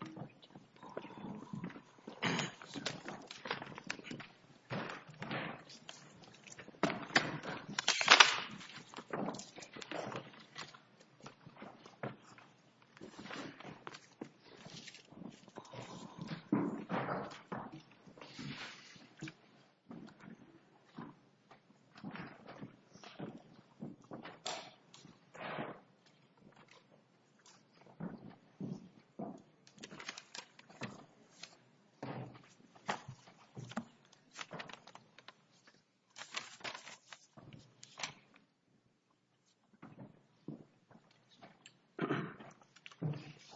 Weeks v. United States Weeks v. United States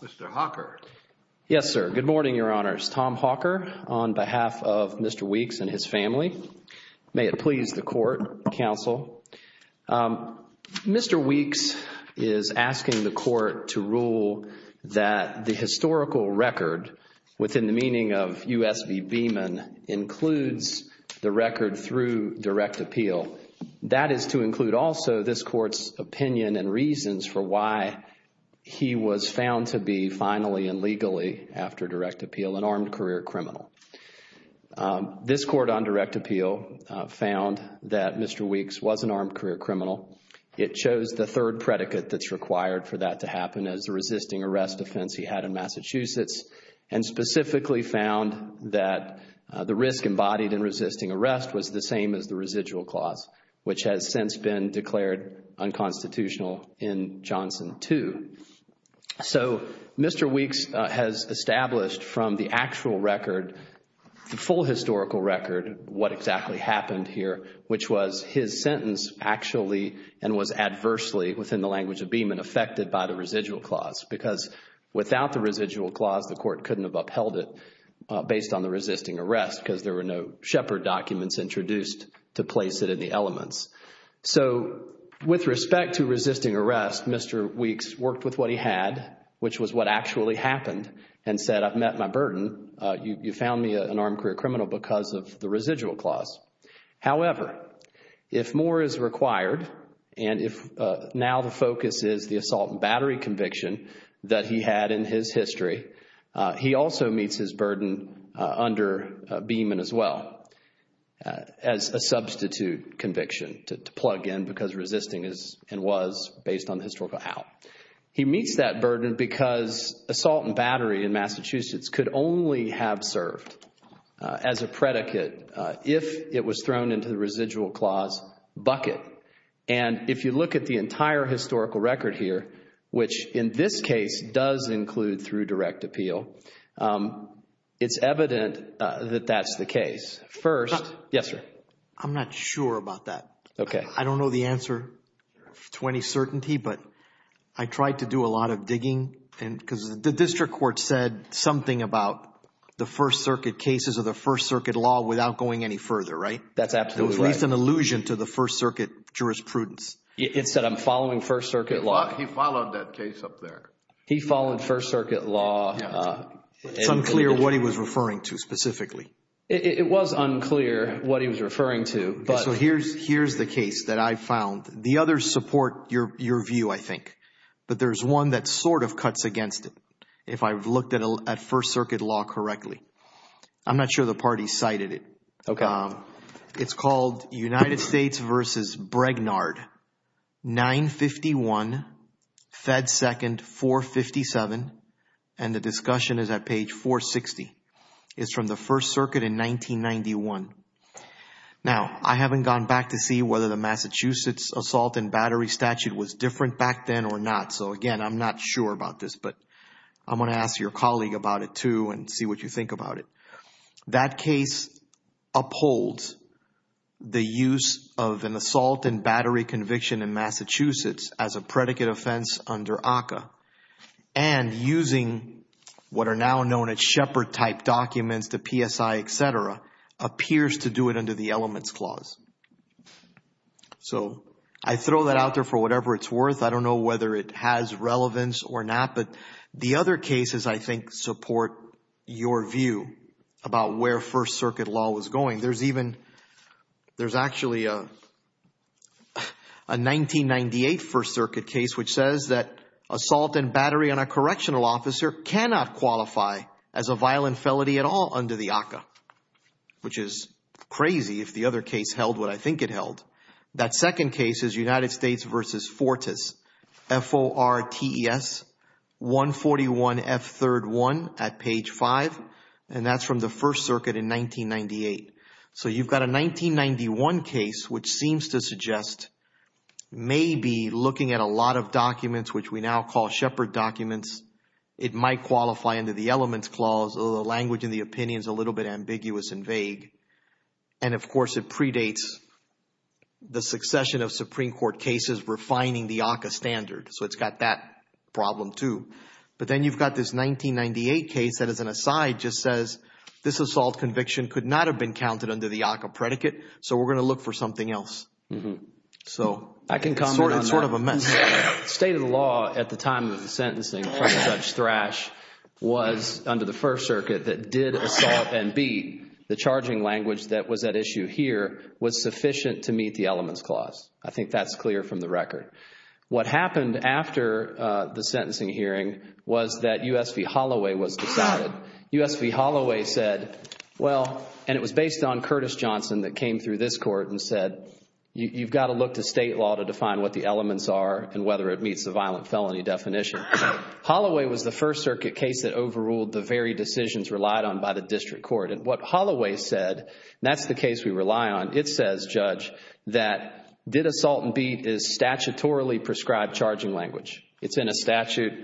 Mr. Hawker. Yes, sir. Good morning, Your Honors. Tom Hawker on behalf of Mr. Weeks and his family. May it please the Court, Counsel. Mr. Weeks is asking the Court to rule that the historical record within the meaning of U.S. v. Beeman includes the record through direct appeal. That is to include also this Court's opinion and reasons for why he was found to be finally and legally, after direct appeal, an armed career criminal. This Court, on direct appeal, found that Mr. Weeks was an armed career criminal. It chose the third predicate that's required for that to happen as a resisting arrest offense he had in Massachusetts and specifically found that the risk embodied in resisting arrest was the same as the residual clause, which has since been declared unconstitutional in Johnson 2. So Mr. Weeks has established from the actual record, the full historical record, what exactly happened here, which was his sentence actually and was adversely, within the language of Beeman, affected by the residual clause because without the residual clause, the Court couldn't have upheld it based on the resisting arrest because there were no Shepard documents introduced to place it in the elements. So with respect to resisting arrest, Mr. Weeks worked with what he had, which was what actually happened and said, I've met my burden. You found me an armed career criminal because of the residual clause. However, if more is required and if now the focus is the assault and battery conviction that he had in his history, he also meets his burden under Beeman as well as a substitute conviction to plug in because resisting is and was based on the historical out. He meets that burden because assault and battery in Massachusetts could only have served as a predicate if it was thrown into the residual clause bucket. And if you look at the entire historical record here, which in this case does include through direct appeal, it's evident that that's the case. First, yes sir. I'm not sure about that. I don't know the answer to any certainty, but I tried to do a lot of digging because the district court said something about the First Circuit cases or the First Circuit law without going any further, right? That's absolutely right. It was at least an allusion to the First Circuit jurisprudence. It said I'm following First Circuit law. He followed that case up there. He followed First Circuit law. It's unclear what he was referring to specifically. It was unclear what he was referring to, but- So here's the case that I found. The others support your view, I think, but there's one that sort of cuts against it if I've looked at First Circuit law correctly. I'm not sure the party cited it. It's called United States versus Bregnard, 951, Fed 2nd, 457, and the discussion is at First Circuit in 1991. Now I haven't gone back to see whether the Massachusetts assault and battery statute was different back then or not. So again, I'm not sure about this, but I'm going to ask your colleague about it too and see what you think about it. That case upholds the use of an assault and battery conviction in Massachusetts as a predicate offense under ACCA and using what are now known as shepherd-type documents, the PSI, et cetera, appears to do it under the elements clause. So I throw that out there for whatever it's worth. I don't know whether it has relevance or not, but the other cases, I think, support your view about where First Circuit law was going. There's even, there's actually a 1998 First Circuit case which says that assault and battery on a correctional officer cannot qualify as a violent felony at all under the ACCA, which is crazy if the other case held what I think it held. That second case is United States versus Fortis, F-O-R-T-E-S, 141 F 3rd 1 at page 5, and that's from the First Circuit in 1998. So you've got a 1991 case which seems to suggest maybe looking at a lot of documents which we now call shepherd documents, it might qualify under the elements clause, although the language and the opinion is a little bit ambiguous and vague. And of course, it predates the succession of Supreme Court cases refining the ACCA standard. So it's got that problem too. But then you've got this 1998 case that, as an aside, just says this assault conviction could not have been counted under the ACCA predicate, so we're going to look for something else. So, it's sort of a mess. I can comment on that. The state of the law at the time of the sentencing for such thrash was under the First Circuit that did assault and beat the charging language that was at issue here was sufficient to meet the elements clause. I think that's clear from the record. What happened after the sentencing hearing was that U.S. v. Holloway was decided. U.S. v. Holloway said, well, and it was based on Curtis Johnson that came through this court and said, you've got to look to state law to define what the elements are and whether it meets the violent felony definition. Holloway was the First Circuit case that overruled the very decisions relied on by the district court. And what Holloway said, and that's the case we rely on, it says, Judge, that did assault and beat is statutorily prescribed charging language. It's in a statute,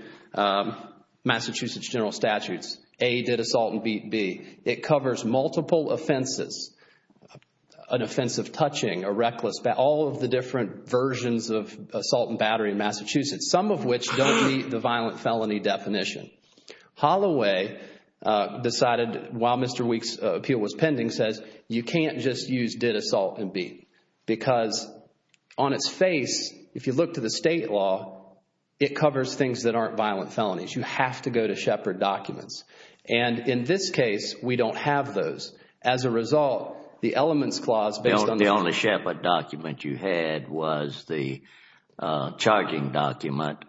Massachusetts General Statutes, A, did assault and beat B. It covers multiple offenses, an offensive touching, a reckless, all of the different versions of assault and battery in Massachusetts, some of which don't meet the violent felony definition. Holloway decided, while Mr. Weeks' appeal was pending, says, you can't just use did assault and beat, because on its face, if you look to the state law, it covers things that aren't violent felonies. You have to go to Shepard documents. And in this case, we don't have those. As a result, the elements clause based on the— The only Shepard document you had was the charging document,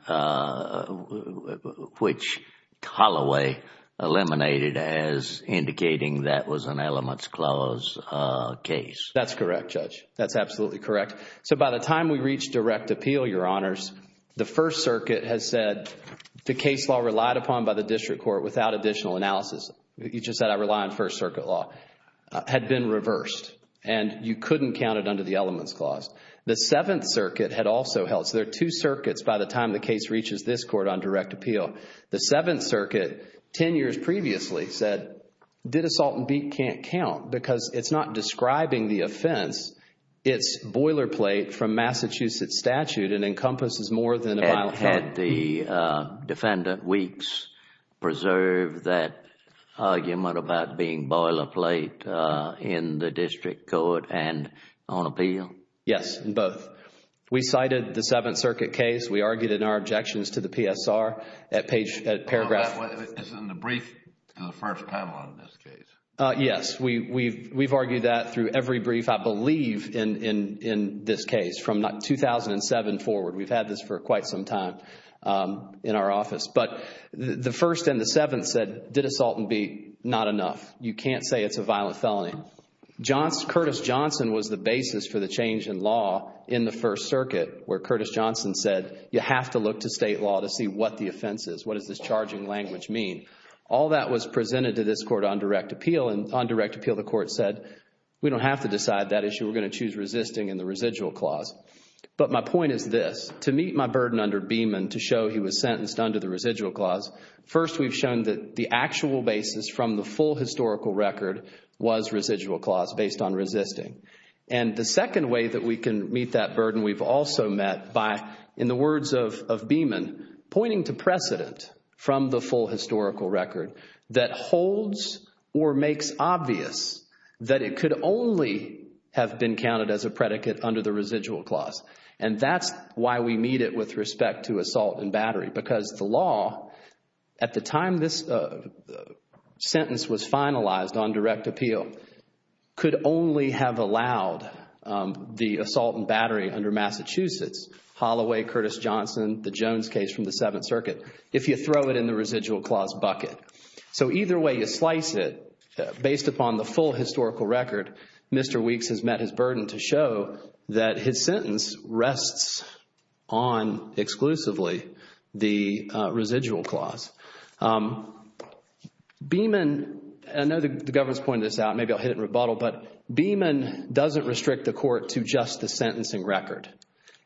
which Holloway eliminated as indicating that was an elements clause case. That's correct, Judge. That's absolutely correct. So, by the time we reached direct appeal, Your Honors, the First Circuit has said the case law relied upon by the district court without additional analysis—you just said I rely on First Circuit law—had been reversed, and you couldn't count it under the elements clause. The Seventh Circuit had also held—so, there are two circuits by the time the case reaches this court on direct appeal. The Seventh Circuit, 10 years previously, said did assault and beat can't count, because it's not describing the offense. It's boilerplate from Massachusetts statute, and encompasses more than a violent felony. And had the defendant, Weeks, preserved that argument about being boilerplate in the district court and on appeal? Yes, both. We cited the Seventh Circuit case. We argued in our objections to the PSR at paragraph— Isn't the brief the first time on this case? Yes. We've argued that through every brief, I believe, in this case from 2007 forward. We've had this for quite some time in our office. But the First and the Seventh said did assault and beat, not enough. You can't say it's a violent felony. Curtis Johnson was the basis for the change in law in the First Circuit, where Curtis Johnson said you have to look to state law to see what the offense is. What does this charging language mean? All that was presented to this court on direct appeal, and on direct appeal the court said we don't have to decide that issue. We're going to choose resisting in the residual clause. But my point is this. To meet my burden under Beamon to show he was sentenced under the residual clause, first we've shown that the actual basis from the full historical record was residual clause based on resisting. And the second way that we can meet that burden, we've also met by, in the words of Beamon, pointing to precedent from the full historical record that holds or makes obvious that it could only have been counted as a predicate under the residual clause. And that's why we meet it with respect to assault and battery. Because the law, at the time this sentence was finalized on direct appeal, could only have allowed the assault and battery under Massachusetts, Holloway, Curtis Johnson, the case from the Seventh Circuit, if you throw it in the residual clause bucket. So either way you slice it, based upon the full historical record, Mr. Weeks has met his burden to show that his sentence rests on exclusively the residual clause. Beamon, I know the Governor's pointed this out, maybe I'll hit it in rebuttal, but Beamon doesn't restrict the court to just the sentencing record.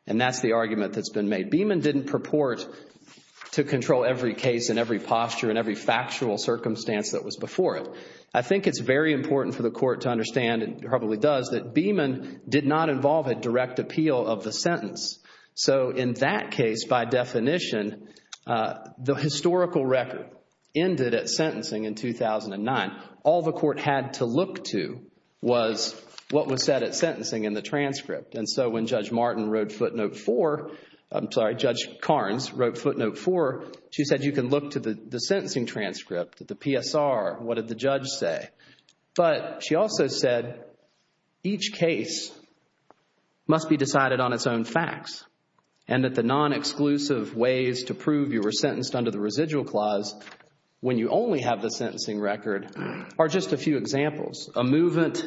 And that's the argument that's been made. Beamon didn't purport to control every case and every posture and every factual circumstance that was before it. I think it's very important for the court to understand, it probably does, that Beamon did not involve a direct appeal of the sentence. So in that case, by definition, the historical record ended at sentencing in 2009. All the court had to look to was what was said at sentencing in the transcript. And so when Judge Martin wrote footnote four, I'm sorry, Judge Carnes wrote footnote four, she said you can look to the sentencing transcript, the PSR, what did the judge say? But she also said each case must be decided on its own facts. And that the non-exclusive ways to prove you were sentenced under the residual clause when you only have the sentencing record are just a few examples. A movement,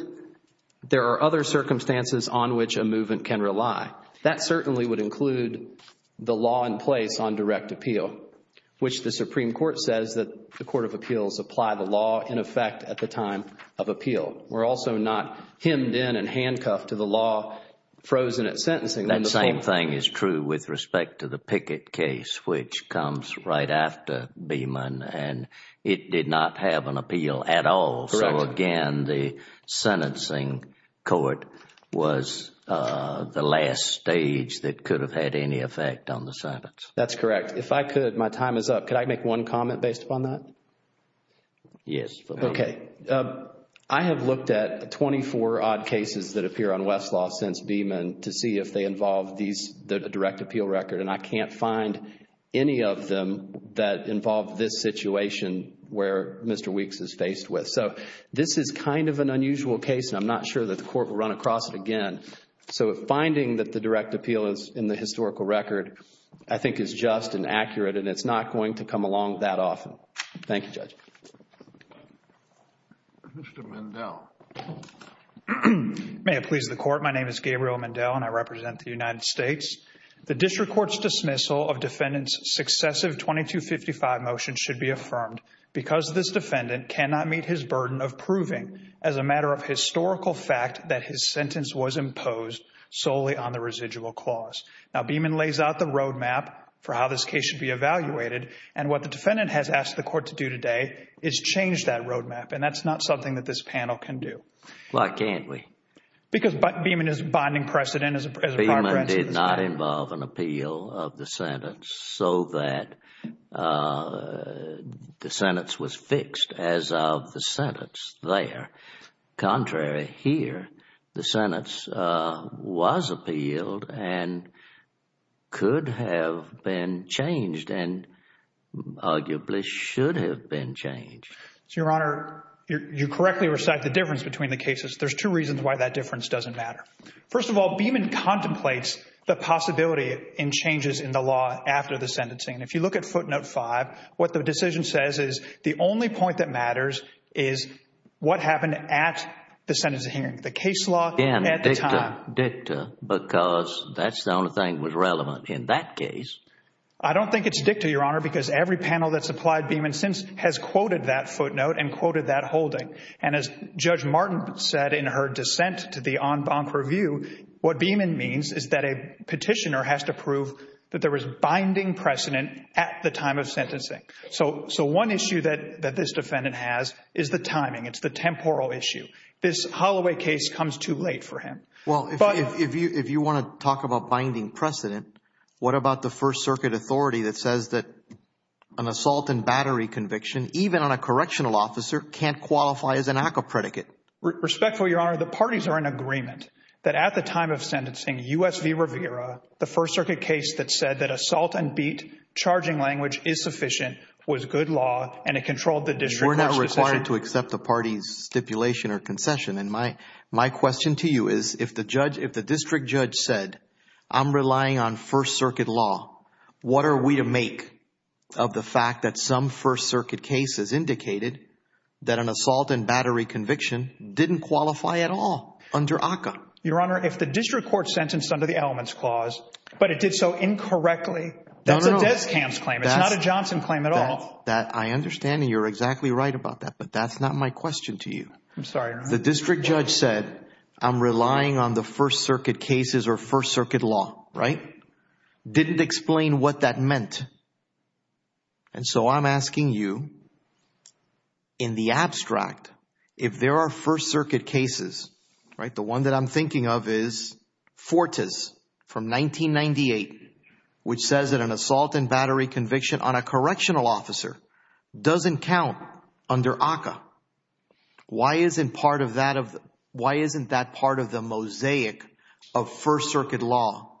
there are other circumstances on which a movement can rely. That certainly would include the law in place on direct appeal, which the Supreme Court says that the Court of Appeals apply the law in effect at the time of appeal. We're also not hemmed in and handcuffed to the law frozen at sentencing. That same thing is true with respect to the Pickett case, which comes right after Beamon and it did not have an appeal at all. So again, the sentencing court was the last stage that could have had any effect on the sentence. That's correct. If I could, my time is up. Could I make one comment based upon that? Yes. Okay. I have looked at 24 odd cases that appear on Westlaw since Beamon to see if they involve the direct appeal record and I can't find any of them that involve this situation where Mr. Weeks is faced with. So this is kind of an unusual case and I'm not sure that the court will run across it again. So finding that the direct appeal is in the historical record, I think is just and accurate and it's not going to come along that often. Thank you, Judge. Mr. Mandel. May it please the Court. My name is Gabriel Mandel and I represent the United States. The district court's dismissal of defendant's successive 2255 motion should be affirmed because this defendant cannot meet his burden of proving as a matter of historical fact that his sentence was imposed solely on the residual clause. Now, Beamon lays out the roadmap for how this case should be evaluated and what the defendant has asked the court to do today is change that roadmap and that's not something that this panel can do. Why can't we? Because Beamon is bonding precedent as a part of that. That did not involve an appeal of the sentence so that the sentence was fixed as of the sentence there. Contrary, here, the sentence was appealed and could have been changed and arguably should have been changed. So, Your Honor, you correctly recite the difference between the cases. There's two reasons why that difference doesn't matter. First of all, Beamon contemplates the possibility in changes in the law after the sentencing. If you look at footnote five, what the decision says is the only point that matters is what happened at the sentence of hearing. The case law at the time. Dicta. Dicta. Because that's the only thing that was relevant in that case. I don't think it's dicta, Your Honor, because every panel that's applied Beamon since has quoted that footnote and quoted that holding. And as Judge Martin said in her dissent to the en banc review, what Beamon means is that a petitioner has to prove that there was binding precedent at the time of sentencing. So one issue that this defendant has is the timing. It's the temporal issue. This Holloway case comes too late for him. Well, if you want to talk about binding precedent, what about the First Circuit authority that says that an assault and battery conviction, even on a correctional officer, can't qualify as an ACCA predicate? Respectfully, Your Honor, the parties are in agreement that at the time of sentencing, U.S. v. Rivera, the First Circuit case that said that assault and beat charging language is sufficient, was good law, and it controlled the district court's decision. We're not required to accept the party's stipulation or concession. And my question to you is, if the district judge said, I'm relying on First Circuit law, what are we to make of the fact that some First Circuit cases indicated that an assault and battery conviction didn't qualify at all under ACCA? Your Honor, if the district court sentenced under the elements clause, but it did so incorrectly, that's a Descamps claim. No, no, no. It's not a Johnson claim at all. I understand, and you're exactly right about that, but that's not my question to you. I'm sorry, Your Honor. The district judge said, I'm relying on the First Circuit cases or First Circuit law, right? Didn't explain what that meant. And so I'm asking you, in the abstract, if there are First Circuit cases, right? The one that I'm thinking of is Fortas from 1998, which says that an assault and battery conviction on a correctional officer doesn't count under ACCA. Why isn't that part of the mosaic of First Circuit law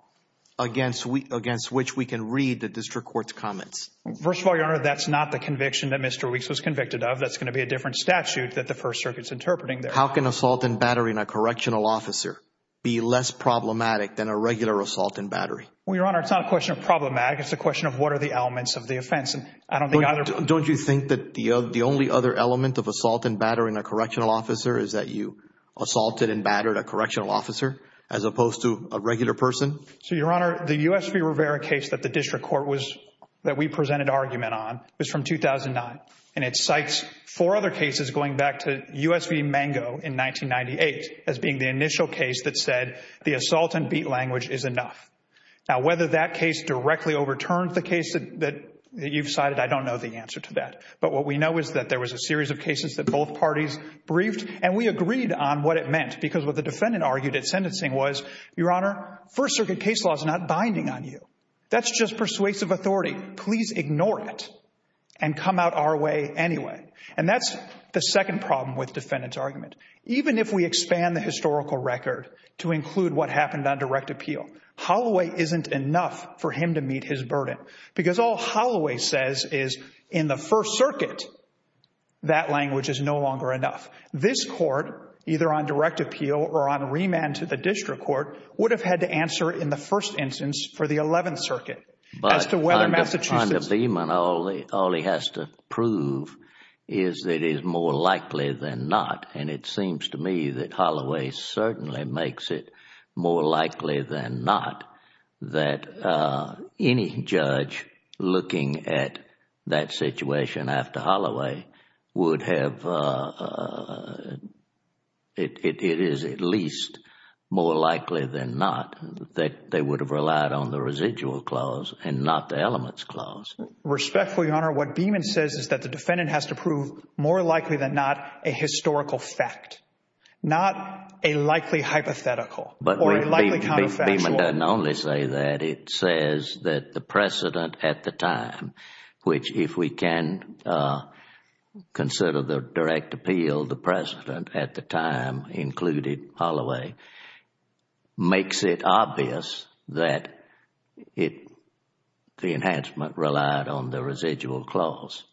against which we can read the district court's comments? First of all, Your Honor, that's not the conviction that Mr. Weeks was convicted of. That's going to be a different statute that the First Circuit's interpreting there. How can assault and battery in a correctional officer be less problematic than a regular assault and battery? Well, Your Honor, it's not a question of problematic. It's a question of what are the elements of the offense. I don't think either. Don't you think that the only other element of assault and battery in a correctional officer is that you assaulted and battered a correctional officer as opposed to a regular person? So, Your Honor, the U.S. v. Rivera case that the district court was, that we presented argument on, was from 2009. And it cites four other cases going back to U.S. v. Mango in 1998 as being the initial case that said the assault and beat language is enough. Now, whether that case directly overturned the case that you've cited, I don't know the answer to that. But what we know is that there was a series of cases that both parties briefed, and we agreed on what it meant. Because what the defendant argued at sentencing was, Your Honor, First Circuit case law is not binding on you. That's just persuasive authority. Please ignore it and come out our way anyway. And that's the second problem with defendant's argument. Even if we expand the historical record to include what happened on direct appeal, Holloway isn't enough for him to meet his burden. Because all Holloway says is, in the First Circuit, that language is no longer enough. This court, either on direct appeal or on remand to the district court, would have had to answer in the first instance for the Eleventh Circuit as to whether Massachusetts— It seems to me that Holloway certainly makes it more likely than not that any judge looking at that situation after Holloway would have—it is at least more likely than not that they would have relied on the residual clause and not the elements clause. Respectfully, Your Honor, what Beeman says is that the defendant has to prove more likely than not a historical fact, not a likely hypothetical or a likely counterfactual. But Beeman doesn't only say that. It says that the precedent at the time, which if we can consider the direct appeal, the precedent at the time included Holloway, makes it obvious that the enhancement relied on the residual clause.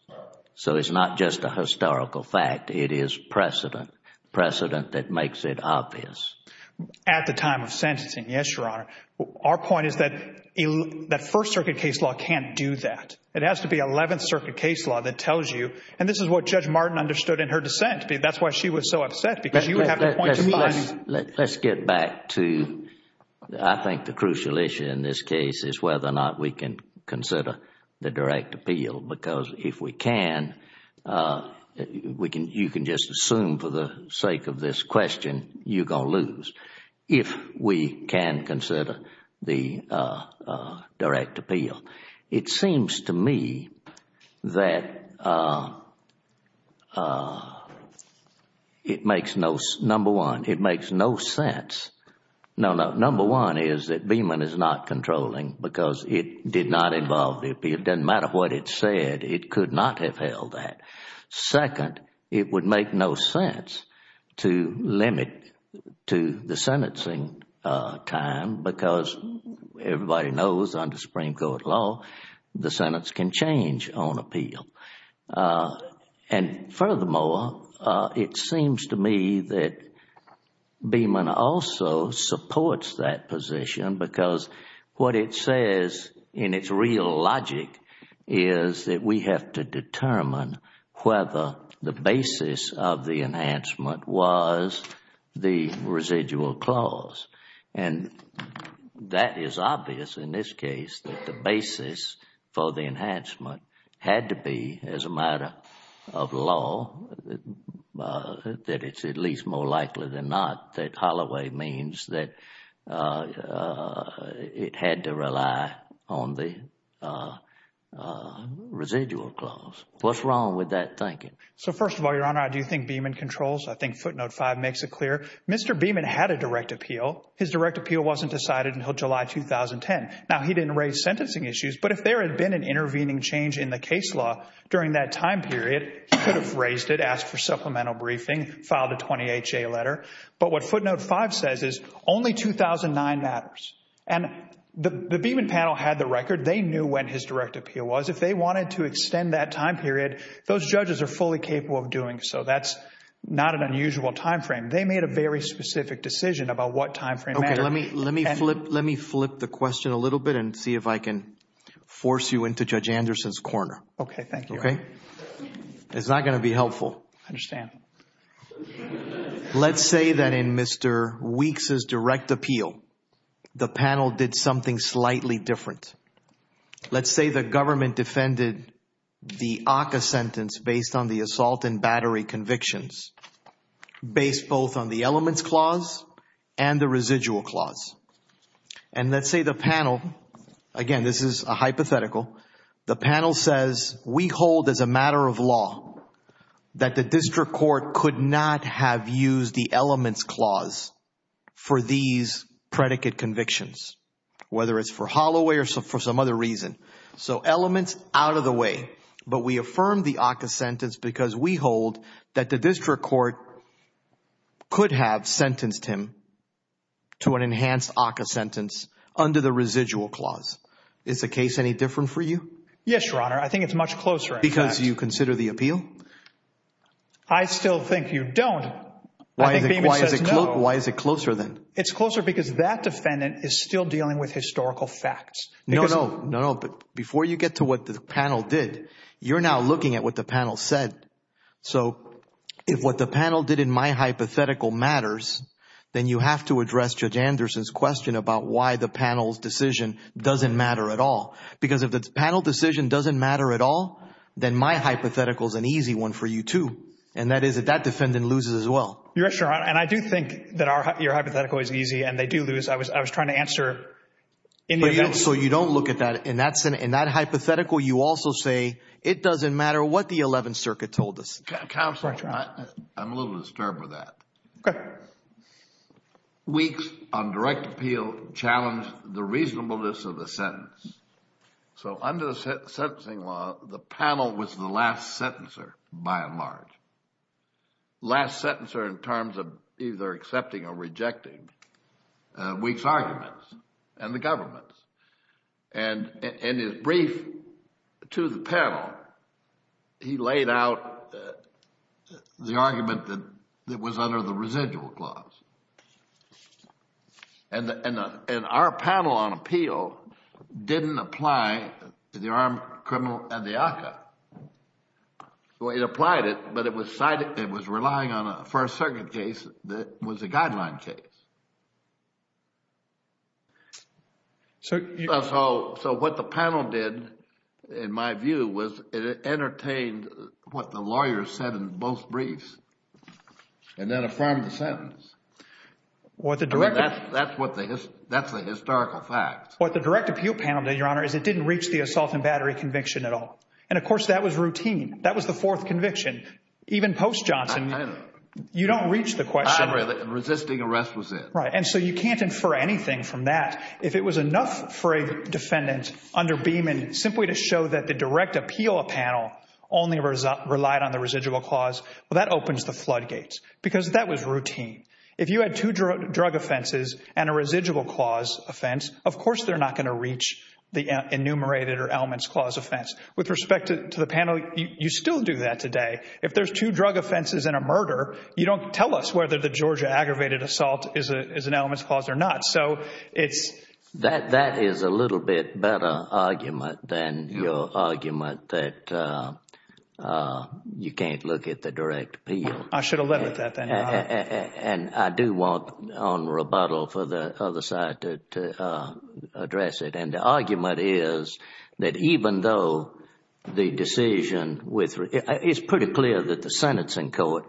So it's not just a historical fact. It is precedent, precedent that makes it obvious. At the time of sentencing, yes, Your Honor. Our point is that First Circuit case law can't do that. It has to be Eleventh Circuit case law that tells you, and this is what Judge Martin understood in her dissent. That's why she was so upset, because she would have to point to Beeman. Let's get back to, I think, the crucial issue in this case is whether or not we can consider the direct appeal, because if we can, you can just assume for the sake of this question you're going to lose if we can consider the direct appeal. It seems to me that it makes no, number one, it makes no sense, no, no, number one is that it does not involve the appeal. It doesn't matter what it said. It could not have held that. Second, it would make no sense to limit to the sentencing time, because everybody knows under Supreme Court law, the sentence can change on appeal. And furthermore, it seems to me that Beeman also supports that position, because what it says in its real logic is that we have to determine whether the basis of the enhancement was the residual clause. And that is obvious in this case, that the basis for the enhancement had to be, as a matter of law, that it's at least more likely than not that Holloway means that it had to rely on the residual clause. What's wrong with that thinking? So first of all, Your Honor, I do think Beeman controls, I think footnote 5 makes it clear. Mr. Beeman had a direct appeal. His direct appeal wasn't decided until July 2010. Now he didn't raise sentencing issues, but if there had been an intervening change in the case law during that time period, he could have raised it, asked for supplemental briefing, filed a 20HA letter. But what footnote 5 says is only 2009 matters. And the Beeman panel had the record. They knew when his direct appeal was. If they wanted to extend that time period, those judges are fully capable of doing so. That's not an unusual time frame. They made a very specific decision about what time frame mattered. Okay. Let me flip the question a little bit and see if I can force you into Judge Anderson's corner. Thank you. Okay? It's not going to be helpful. I understand. Let's say that in Mr. Weeks' direct appeal, the panel did something slightly different. Let's say the government defended the ACCA sentence based on the assault and battery convictions based both on the elements clause and the residual clause. And let's say the panel, again, this is a hypothetical, the panel says, we hold as a district court could not have used the elements clause for these predicate convictions, whether it's for Holloway or for some other reason. So elements out of the way. But we affirm the ACCA sentence because we hold that the district court could have sentenced him to an enhanced ACCA sentence under the residual clause. Is the case any different for you? Yes, Your Honor. I think it's much closer. Because you consider the appeal? I still think you don't. Why is it closer then? It's closer because that defendant is still dealing with historical facts. No, no. No, no. But before you get to what the panel did, you're now looking at what the panel said. So if what the panel did in my hypothetical matters, then you have to address Judge Anderson's question about why the panel's decision doesn't matter at all. Because if the panel decision doesn't matter at all, then my hypothetical is an easy one for you too. And that is that that defendant loses as well. Yes, Your Honor. And I do think that your hypothetical is easy and they do lose. I was trying to answer in the event. So you don't look at that. In that hypothetical, you also say it doesn't matter what the Eleventh Circuit told us. Counsel, I'm a little disturbed with that. Okay. Weeks, on direct appeal, challenged the reasonableness of the sentence. So under the sentencing law, the panel was the last sentencer, by and large. Last sentencer in terms of either accepting or rejecting Weeks' arguments and the government's. And in his brief to the panel, he laid out the argument that was under the residual clause. And our panel on appeal didn't apply to the armed criminal and the ACCA. So it applied it, but it was relying on a First Circuit case that was a guideline case. So what the panel did, in my view, was it entertained what the lawyers said in both briefs and then affirmed the sentence. That's the historical fact. What the direct appeal panel did, Your Honor, is it didn't reach the assault and battery conviction at all. And of course, that was routine. That was the fourth conviction. Even post-Johnson, you don't reach the question. The resisting arrest was it. Right. And so you can't infer anything from that. If it was enough for a defendant under Beeman simply to show that the direct appeal panel only relied on the residual clause, well, that opens the floodgates. Because that was routine. If you had two drug offenses and a residual clause offense, of course they're not going to reach the enumerated or elements clause offense. With respect to the panel, you still do that today. If there's two drug offenses and a murder, you don't tell us whether the Georgia aggravated assault is an elements clause or not. So it's— That is a little bit better argument than your argument that you can't look at the direct appeal. I should have led with that then, Your Honor. And I do want on rebuttal for the other side to address it. And the argument is that even though the decision with—it's pretty clear that the sentencing court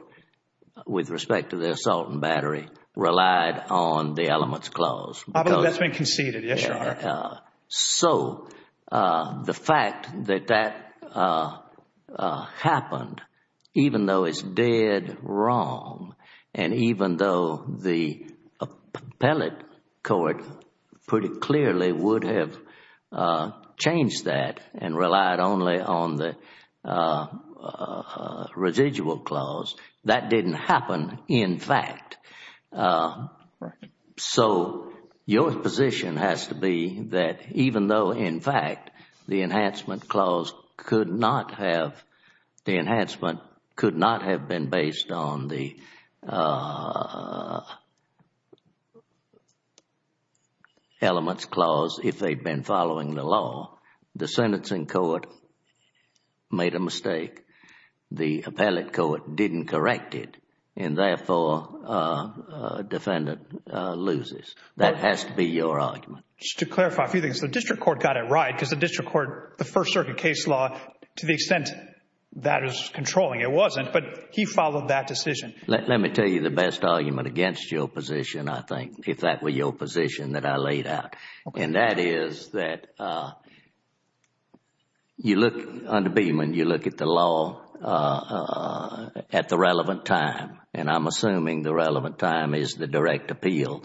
with respect to the assault and battery relied on the elements clause. I believe that's been conceded. Yes, Your Honor. So the fact that that happened, even though it's dead wrong and even though the appellate court pretty clearly would have changed that and relied only on the residual clause, that didn't happen in fact. Right. So your position has to be that even though in fact the enhancement clause could not have—the enhancement could not have been based on the elements clause if they'd been following the law. The sentencing court made a mistake. The appellate court didn't correct it. And therefore, defendant loses. That has to be your argument. Just to clarify a few things. The district court got it right because the district court—the First Circuit case law, to the extent that it was controlling, it wasn't. But he followed that decision. Let me tell you the best argument against your position, I think, if that were your position that I laid out. And that is that you look—under Beeman, you look at the law at the relevant time. And I'm assuming the relevant time is the direct appeal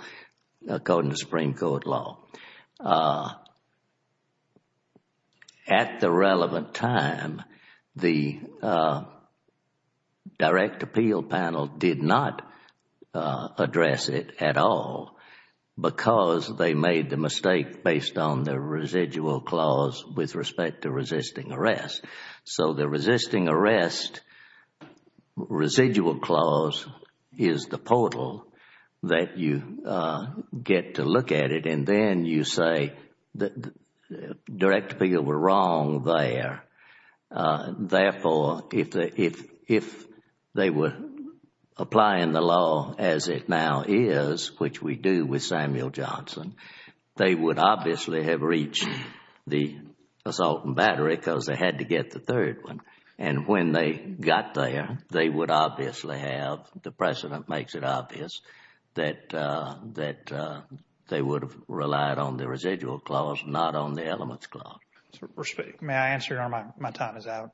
according to Supreme Court law. At the relevant time, the direct appeal panel did not address it at all because they made the mistake based on the residual clause with respect to resisting arrest. So the resisting arrest residual clause is the portal that you get to look at it. And then you say the direct appeal were wrong there. Therefore, if they were applying the law as it now is, which we do with Samuel Johnson, they would obviously have reached the assault and battery because they had to get the third one. And when they got there, they would obviously have—the precedent makes it obvious that they would have relied on the residual clause, not on the elements clause. May I answer, Your Honor? My time is out.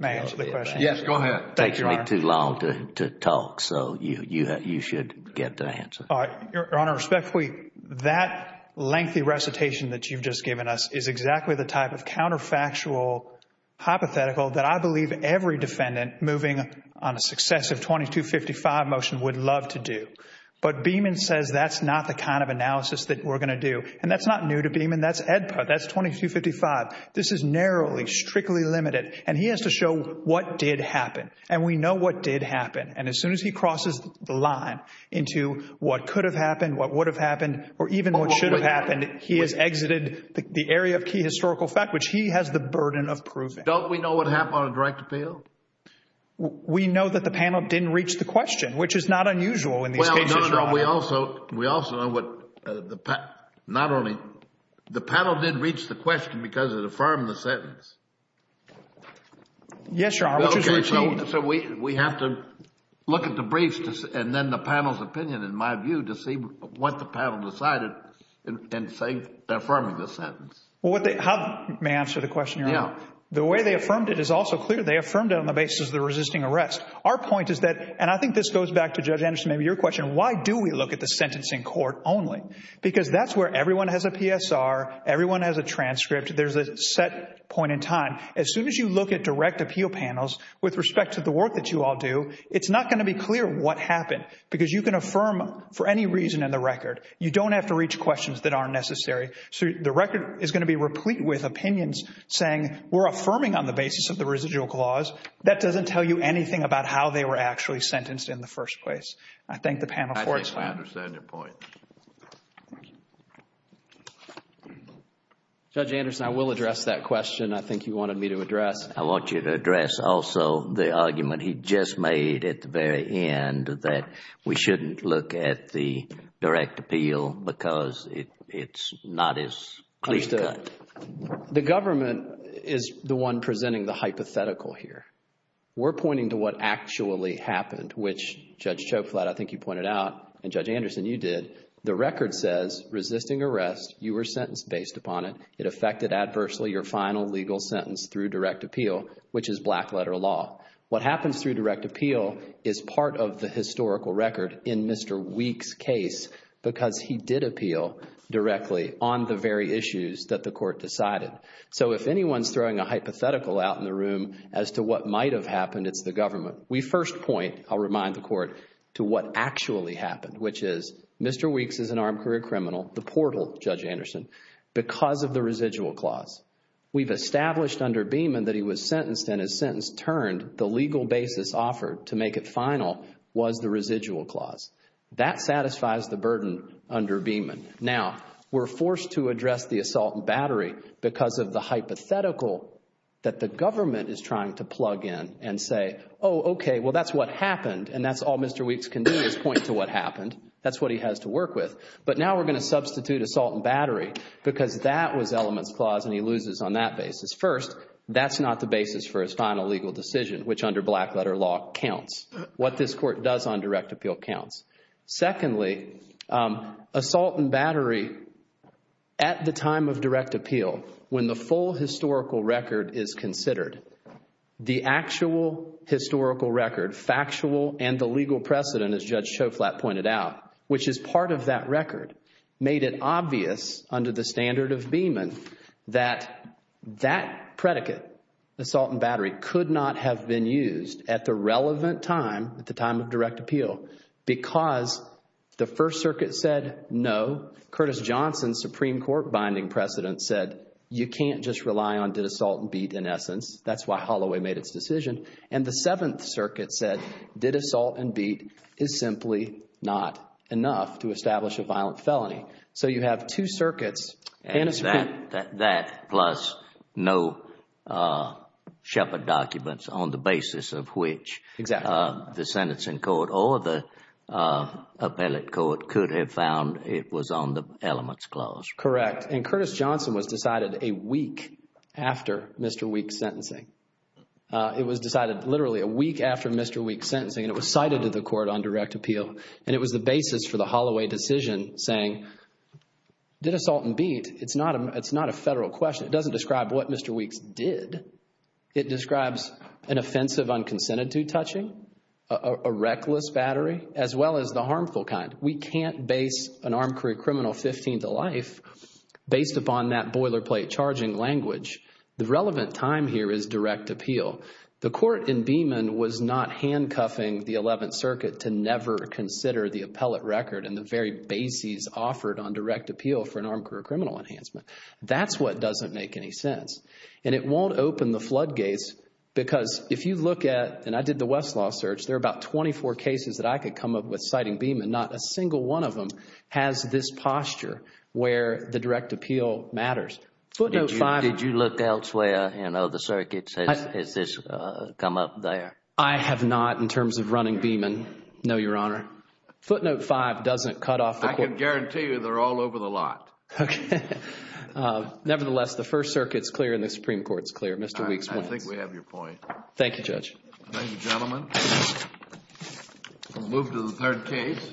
May I answer the question? Yes, go ahead. It takes me too long to talk, so you should get the answer. Your Honor, respectfully, that lengthy recitation that you've just given us is exactly the type of counterfactual hypothetical that I believe every defendant moving on a successive 2255 motion would love to do. But Beeman says that's not the kind of analysis that we're going to do. And that's not new to Beeman. That's EDPA. That's 2255. This is narrowly, strictly limited. And he has to show what did happen. And we know what did happen. And as soon as he crosses the line into what could have happened, what would have happened, or even what should have happened, he has exited the area of key historical fact, which he has the burden of proving. Don't we know what happened on a direct appeal? We know that the panel didn't reach the question, which is not unusual in these cases, Your Honor. But we also know what the panel did reach the question because it affirmed the sentence. Yes, Your Honor. So we have to look at the briefs and then the panel's opinion, in my view, to see what the panel decided in affirming the sentence. May I answer the question, Your Honor? Yeah. The way they affirmed it is also clear. They affirmed it on the basis of the resisting arrest. Our point is that, and I think this goes back to Judge Anderson, maybe your question, why do we look at the sentencing court only? Because that's where everyone has a PSR, everyone has a transcript, there's a set point in time. As soon as you look at direct appeal panels with respect to the work that you all do, it's not going to be clear what happened. Because you can affirm for any reason in the record. You don't have to reach questions that aren't necessary. So the record is going to be replete with opinions saying we're affirming on the basis of the residual clause. That doesn't tell you anything about how they were actually sentenced in the first place. I thank the panel for its time. I think I understand your point. Judge Anderson, I will address that question. I think you wanted me to address. I want you to address also the argument he just made at the very end that we shouldn't look at the direct appeal because it's not as clear-cut. The government is the one presenting the hypothetical here. We're pointing to what actually happened, which Judge Choklat, I think you pointed out, and Judge Anderson, you did. The record says resisting arrest, you were sentenced based upon it. It affected adversely your final legal sentence through direct appeal, which is black-letter law. What happens through direct appeal is part of the historical record in Mr. Weeks' case because he did appeal directly on the very issues that the court decided. So if anyone's throwing a hypothetical out in the room as to what might have happened, it's the government. We first point, I'll remind the court, to what actually happened, which is Mr. Weeks is an armed career criminal, the portal, Judge Anderson. Because of the residual clause, we've established under Beeman that he was sentenced and his sentence turned. The legal basis offered to make it final was the residual clause. That satisfies the burden under Beeman. Now, we're forced to address the assault and battery because of the hypothetical that the government is trying to plug in and say, oh, okay, well, that's what happened. And that's all Mr. Weeks can do is point to what happened. That's what he has to work with. But now we're going to substitute assault and battery because that was elements clause and he loses on that basis. First, that's not the basis for his final legal decision, which under black-letter law counts. What this court does on direct appeal counts. Secondly, assault and battery at the time of direct appeal, when the full historical record is considered, the actual historical record, factual and the legal precedent, as Judge Schoflat pointed out, which is part of that record, made it obvious under the standard of Beeman that that predicate, assault and battery, could not have been used at the relevant time, at the time of direct appeal, because the First Circuit said no. Curtis Johnson, Supreme Court binding precedent, said you can't just rely on did assault and beat in essence. That's why Holloway made its decision. And the Seventh Circuit said did assault and beat is simply not enough to establish a violent felony. So you have two circuits. And that plus no Shepard documents on the basis of which the sentencing court or the appellate court could have found it was on the elements clause. Correct. And Curtis Johnson was decided a week after Mr. Weeks' sentencing. It was decided literally a week after Mr. Weeks' sentencing, and it was cited to the court on direct appeal. And it was the basis for the Holloway decision saying did assault and beat, it's not a federal question. It doesn't describe what Mr. Weeks did. It describes an offensive unconsented to touching, a reckless battery, as well as the harmful kind. We can't base an armed career criminal 15 to life based upon that boilerplate charging language. The relevant time here is direct appeal. The court in Beeman was not handcuffing the Eleventh Circuit to never consider the appellate record and the very bases offered on direct appeal for an armed career criminal enhancement. That's what doesn't make any sense. And it won't open the floodgates because if you look at, and I did the Westlaw search, there are about 24 cases that I could come up with citing Beeman. Not a single one of them has this posture where the direct appeal matters. Did you look elsewhere in other circuits? Has this come up there? I have not in terms of running Beeman, no, Your Honor. Footnote 5 doesn't cut off the court. I can guarantee you they're all over the lot. Okay. Nevertheless, the First Circuit is clear and the Supreme Court is clear, Mr. Weeks. I think we have your point. Thank you, Judge. Thank you, gentlemen. We'll move to the third case.